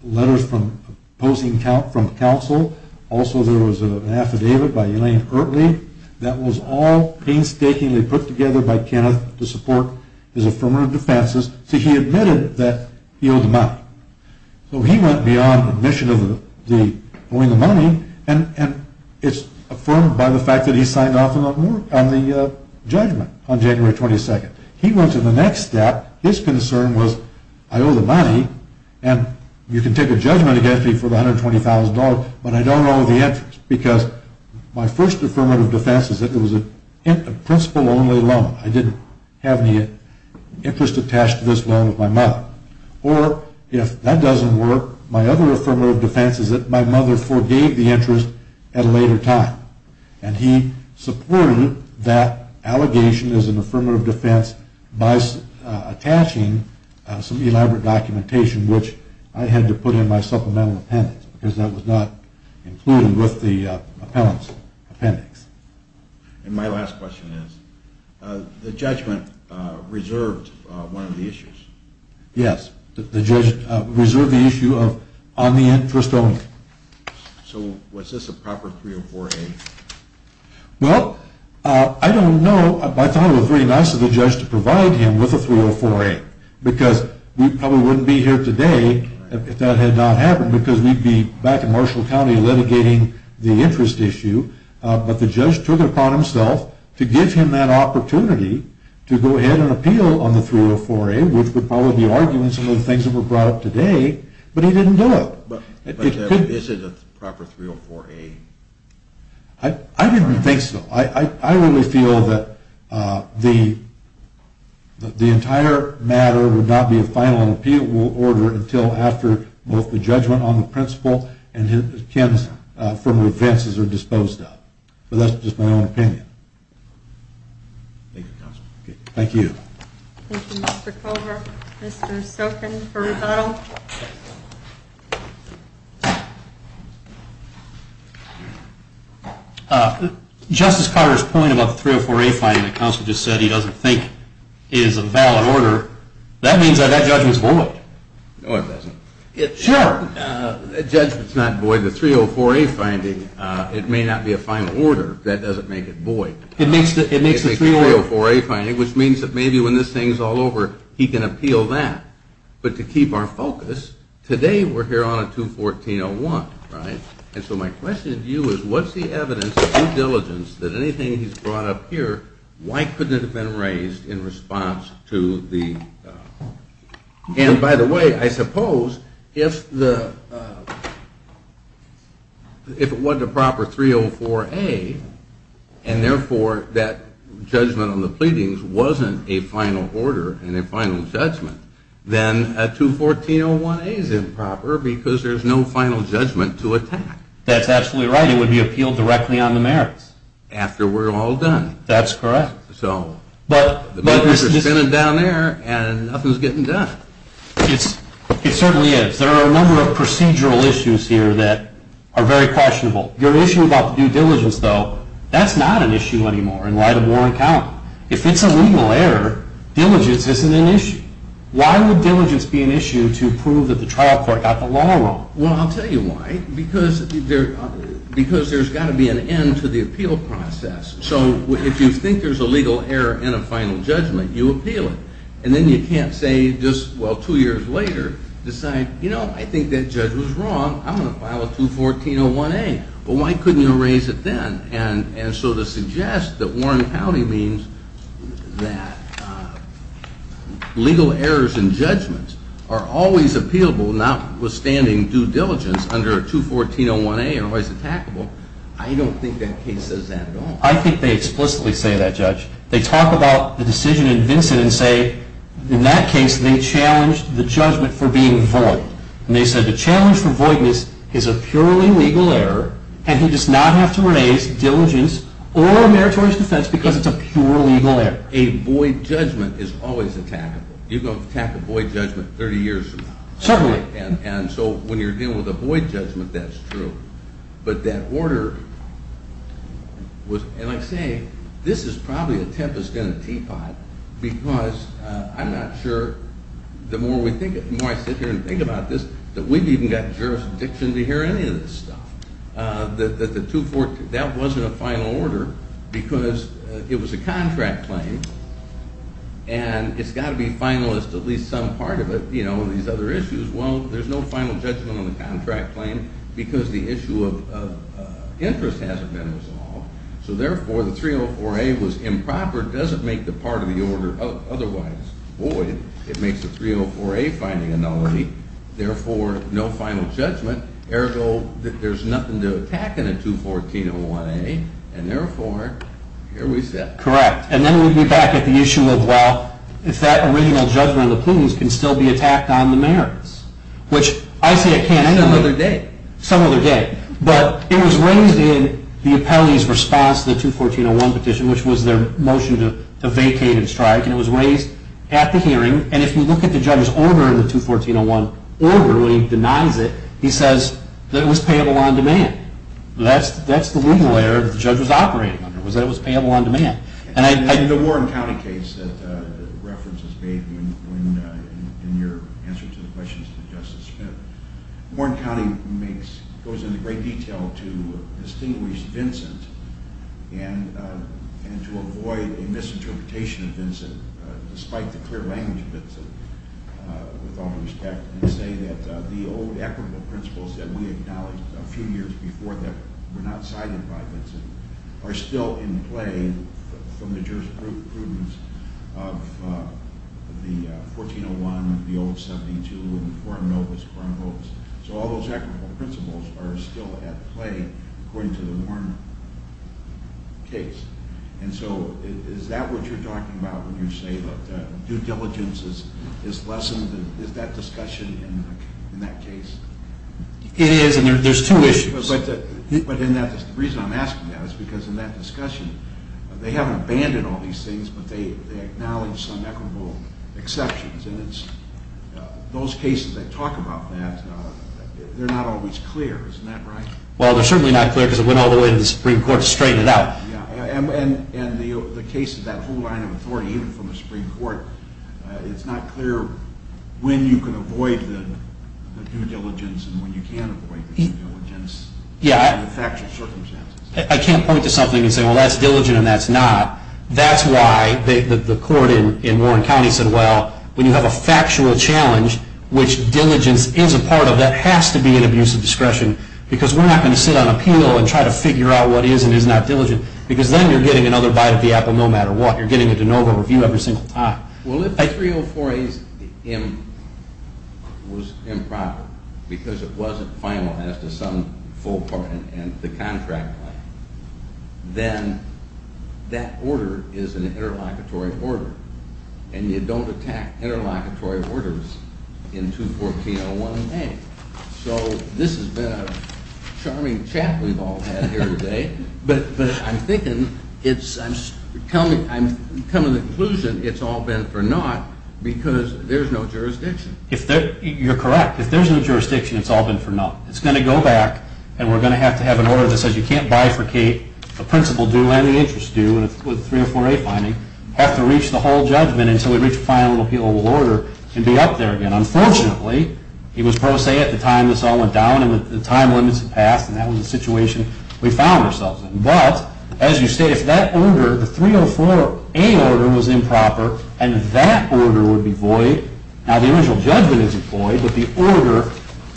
letters from opposing counsel, also there was an affidavit by Elaine Eartley, that was all painstakingly put together by Kenneth to support his affirmative defenses, so he admitted that he owed the money. So he went beyond admission of owing the money, and it's affirmed by the fact that he signed off on the judgment on January 22nd. He went to the next step. His concern was, I owe the money, and you can take a judgment against me for the $120,000, but I don't owe the interest, because my first affirmative defense is that it was a principal-only loan. I didn't have any interest attached to this loan with my mother. Or, if that doesn't work, my other affirmative defense is that my mother forgave the interest at a later time, and he supported that allegation as an affirmative defense by attaching some elaborate documentation, which I had to put in my supplemental appendix, because that was not included with the appellant's appendix. And my last question is, the judgment reserved one of the issues? Yes, the judgment reserved the issue of on the interest only. So was this a proper 304A? Well, I don't know. I thought it was very nice of the judge to provide him with a 304A, because we probably wouldn't be here today if that had not happened, because we'd be back in Marshall County litigating the interest issue. But the judge took it upon himself to give him that opportunity to go ahead and appeal on the 304A, which would probably be arguing some of the things that were brought up today, but he didn't do it. But is it a proper 304A? I didn't think so. I really feel that the entire matter would not be a final appeal order until after both the judgment on the principle and Ken's affirmative defenses are disposed of. But that's just my own opinion. Thank you, Counselor. Thank you. Thank you, Mr. Culver. Mr. Stokin for rebuttal. Justice Carter's point about the 304A finding that Counsel just said he doesn't think is a valid order, that means that that judgment is void. No, it doesn't. Sure. The judgment is not void. The 304A finding, it may not be a final order. That doesn't make it void. It makes the 304A finding, which means that maybe when this thing is all over, he can appeal that. But to keep our focus, today we're here on a 214-01, right? And so my question to you is what's the evidence of due diligence that anything he's brought up here, why couldn't it have been raised in response to the – and by the way, I suppose if it wasn't a proper 304A and therefore that judgment on the pleadings wasn't a final order and a final judgment, then a 214-01A is improper because there's no final judgment to attack. That's absolutely right. It would be appealed directly on the merits. After we're all done. That's correct. So – But – The bill is just sitting down there and nothing's getting done. It certainly is. There are a number of procedural issues here that are very questionable. Your issue about the due diligence, though, that's not an issue anymore in light of Warren Count. If it's a legal error, diligence isn't an issue. Why would diligence be an issue to prove that the trial court got the law wrong? Well, I'll tell you why. Because there's got to be an end to the appeal process. So if you think there's a legal error in a final judgment, you appeal it. And then you can't say just, well, two years later, decide, you know, I think that judge was wrong. I'm going to file a 214-01A. Well, why couldn't you raise it then? And so to suggest that Warren County means that legal errors in judgments are always appealable, notwithstanding due diligence under a 214-01A are always attackable, I don't think that case says that at all. I think they explicitly say that, Judge. They talk about the decision in Vincent and say in that case they challenged the judgment for being void. And they said the challenge for voidness is a purely legal error, and he does not have to raise diligence or a meritorious defense because it's a pure legal error. A void judgment is always attackable. You can attack a void judgment 30 years from now. Certainly. And so when you're dealing with a void judgment, that's true. But that order was – and I say this is probably a tempest in a teapot because I'm not sure – the more I sit here and think about this, that we've even got jurisdiction to hear any of this stuff. That the 214 – that wasn't a final order because it was a contract claim, and it's got to be final as to at least some part of it, you know, these other issues. Well, there's no final judgment on the contract claim because the issue of interest hasn't been resolved. So therefore, the 304-A was improper. It doesn't make the part of the order otherwise void. It makes the 304-A finding a nullity. Therefore, no final judgment. Ergo, there's nothing to attack in a 214-01-A, and therefore, here we sit. Correct. And then we'd be back at the issue of, well, if that original judgment of the pleas can still be attacked on the merits, which I say it can't anyway. Some other day. Some other day. But it was raised in the appellee's response to the 214-01 petition, which was their motion to vacate and strike, and it was raised at the hearing. And if you look at the judge's order in the 214-01 order when he denies it, he says that it was payable on demand. That's the legal error that the judge was operating under, was that it was payable on demand. In the Warren County case that reference is made in your answer to the questions to Justice Smith, Warren County goes into great detail to distinguish Vincent and to avoid a misinterpretation of Vincent, despite the clear language of Vincent, with all due respect, and say that the old equitable principles that we acknowledged a few years before that were not cited by Vincent are still in play from the jurisprudence of the 14-01, the old 72, and the foreign notice, foreign votes. So all those equitable principles are still at play according to the Warren case. And so is that what you're talking about when you say that due diligence is lessened? Is that discussion in that case? It is, and there's two issues. But the reason I'm asking that is because in that discussion, they haven't abandoned all these things, but they acknowledge some equitable exceptions. And those cases that talk about that, they're not always clear. Isn't that right? Well, they're certainly not clear because it went all the way to the Supreme Court to straighten it out. Yeah, and the case of that whole line of authority, even from the Supreme Court, it's not clear when you can avoid the due diligence and when you can't avoid the due diligence in the factual circumstances. I can't point to something and say, well, that's diligent and that's not. That's why the court in Warren County said, well, when you have a factual challenge, which diligence is a part of that, it has to be an abuse of discretion because we're not going to sit on appeal and try to figure out what is and is not diligent because then you're getting another bite of the apple no matter what. You're getting a de novo review every single time. Well, if a 304A was improper because it wasn't final as to some full part in the contract, then that order is an interlocutory order and you don't attack interlocutory orders in 21401A. So this has been a charming chat we've all had here today, but I'm thinking, I'm coming to the conclusion it's all been for naught because there's no jurisdiction. You're correct. If there's no jurisdiction, it's all been for naught. It's going to go back and we're going to have to have an order that says you can't bifurcate the principal due and the interest due with a 304A finding, have to reach the whole judgment until we reach a final appealable order and be up there again. Unfortunately, it was pro se at the time this all went down and the time limits had passed and that was the situation we found ourselves in. But, as you state, if that order, the 304A order was improper and that order would be void, now the original judgment is void, but the order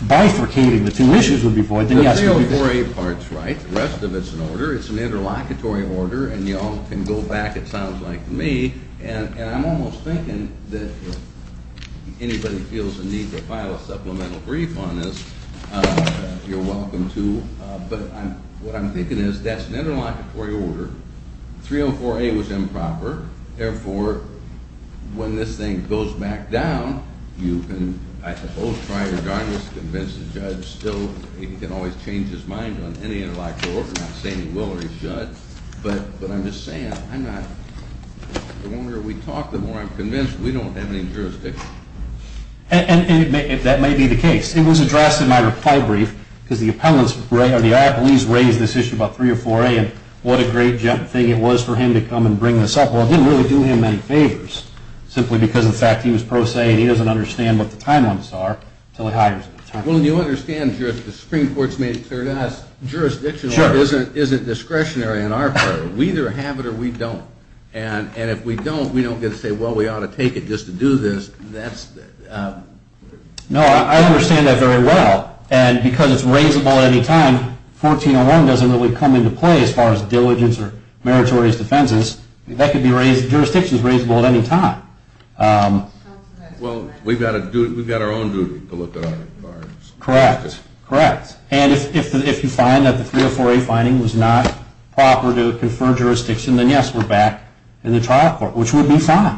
bifurcating the two issues would be void, then yes, you'd be disqualified. The 304A part's right. The rest of it's an order. It's an interlocutory order and you all can go back, it sounds like to me, and I'm almost thinking that if anybody feels the need to file a supplemental brief on this, you're welcome to, but what I'm thinking is that's an interlocutory order. 304A was improper, therefore, when this thing goes back down, you can, I suppose, try your darndest to convince the judge still, he can always change his mind on any interlocutory order, not say he will or he should, but I'm just saying, I'm not, the longer we talk, the more I'm convinced we don't have any jurisdiction. And that may be the case. It was addressed in my reply brief because the appellants raised this issue about 304A and what a great thing it was for him to come and bring this up. Well, it didn't really do him any favors, simply because of the fact he was pro se and he doesn't understand what the timelines are until he hires him. Well, you understand, the Supreme Court's made it clear to us, jurisdiction isn't discretionary in our favor. We either have it or we don't, and if we don't, we don't get to say, well, we ought to take it just to do this. No, I understand that very well. And because it's raisable at any time, 1401 doesn't really come into play as far as diligence or meritorious defenses. Jurisdiction is raisable at any time. Well, we've got our own duty to look at it. Correct, correct. And if you find that the 304A finding was not proper to confer jurisdiction, then, yes, we're back in the trial court, which would be fine,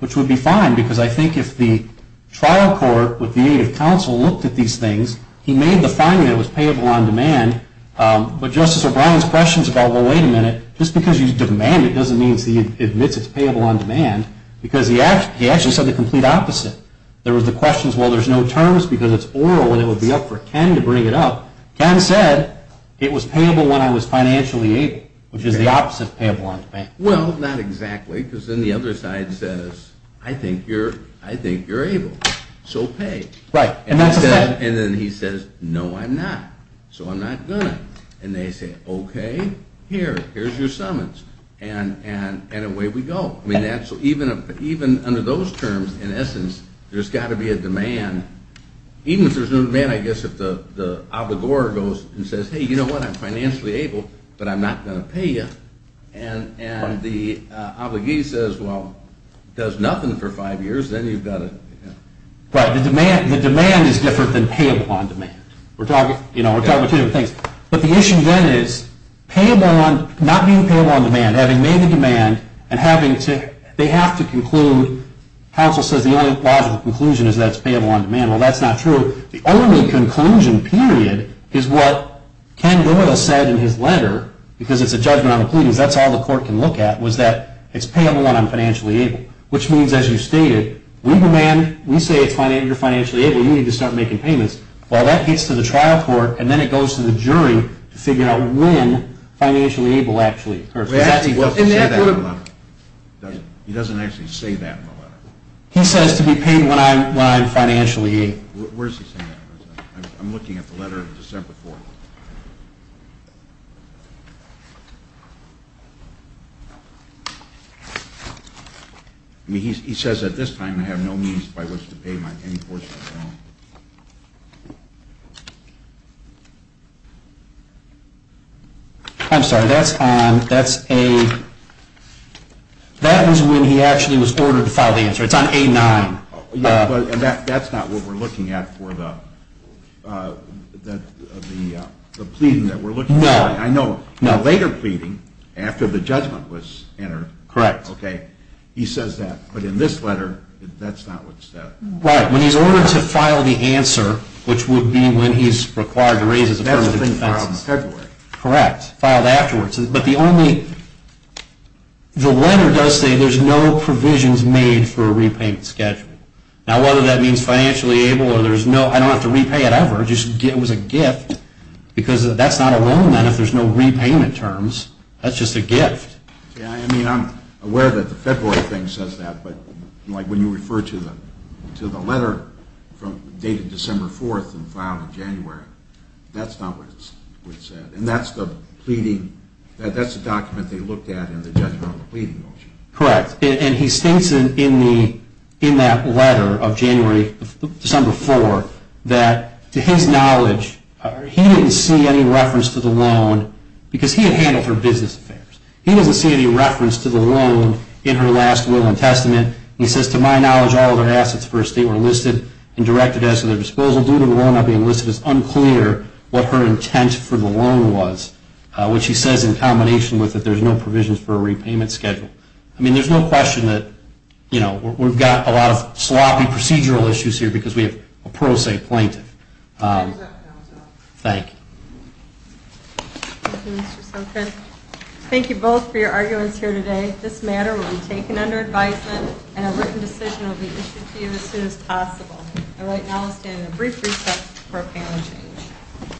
which would be fine because I think if the trial court with the aid of counsel looked at these things, he made the finding that it was payable on demand, but Justice O'Brien's questions about, well, wait a minute, just because you demand it doesn't mean he admits it's payable on demand, because he actually said the complete opposite. There was the question, well, there's no terms because it's oral and it would be up for Ken to bring it up. Ken said, it was payable when I was financially able, which is the opposite of payable on demand. Well, not exactly, because then the other side says, I think you're able, so pay. Right. And then he says, no, I'm not, so I'm not going to. And they say, okay, here, here's your summons, and away we go. I mean, even under those terms, in essence, there's got to be a demand. Even if there's no demand, I guess if the obligor goes and says, hey, you know what, I'm financially able, but I'm not going to pay you, and the obligee says, well, does nothing for five years, then you've got to. Right. The demand is different than payable on demand. We're talking about two different things. But the issue, then, is not being payable on demand, having made the demand, and they have to conclude, counsel says the only logical conclusion is that it's payable on demand. Well, that's not true. The only conclusion, period, is what Ken Doyle said in his letter, because it's a judgment on the pleadings, that's all the court can look at, was that it's payable when I'm financially able, which means, as you stated, we demand, we say you're financially able, you need to start making payments. Well, that gets to the trial court, and then it goes to the jury to figure out when financially able actually occurs. He doesn't actually say that in the letter. He says to be paid when I'm financially able. Where is he saying that? I'm looking at the letter of December 4th. I mean, he says at this time, I have no means by which to pay my any portion of the loan. I'm sorry, that's on, that's a, that is when he actually was ordered to file the answer. It's on A-9. Yeah, but that's not what we're looking at for the pleading that we're looking at. No. I know, now later pleading, after the judgment was entered. Correct. Okay, he says that, but in this letter, that's not what's said. Right, when he's ordered to file the answer, which would be when he's required to raise his affirmative defense. That's the thing filed in February. Correct, filed afterwards, but the only, the letter does say there's no provisions made for a repayment schedule. Now, whether that means financially able or there's no, I don't have to repay it ever. It was a gift because that's not a loan then if there's no repayment terms. That's just a gift. Yeah, I mean, I'm aware that the February thing says that, but like when you refer to the letter dated December 4th and filed in January, that's not what's said. And that's the pleading, that's the document they looked at in the judgment on the pleading motion. Correct, and he states in that letter of January, December 4th, that to his knowledge, he didn't see any reference to the loan because he had handled her business affairs. He doesn't see any reference to the loan in her last will and testament. He says, to my knowledge, all of her assets for estate were listed and directed at her disposal. It's unclear what her intent for the loan was, which he says in combination with that there's no provisions for a repayment schedule. I mean, there's no question that, you know, we've got a lot of sloppy procedural issues here because we have a pro se plaintiff. Thank you. Thank you both for your arguments here today. This matter will be taken under advisement and a written decision will be issued to you as soon as possible. All right, now let's stand in a brief recess for a panel change.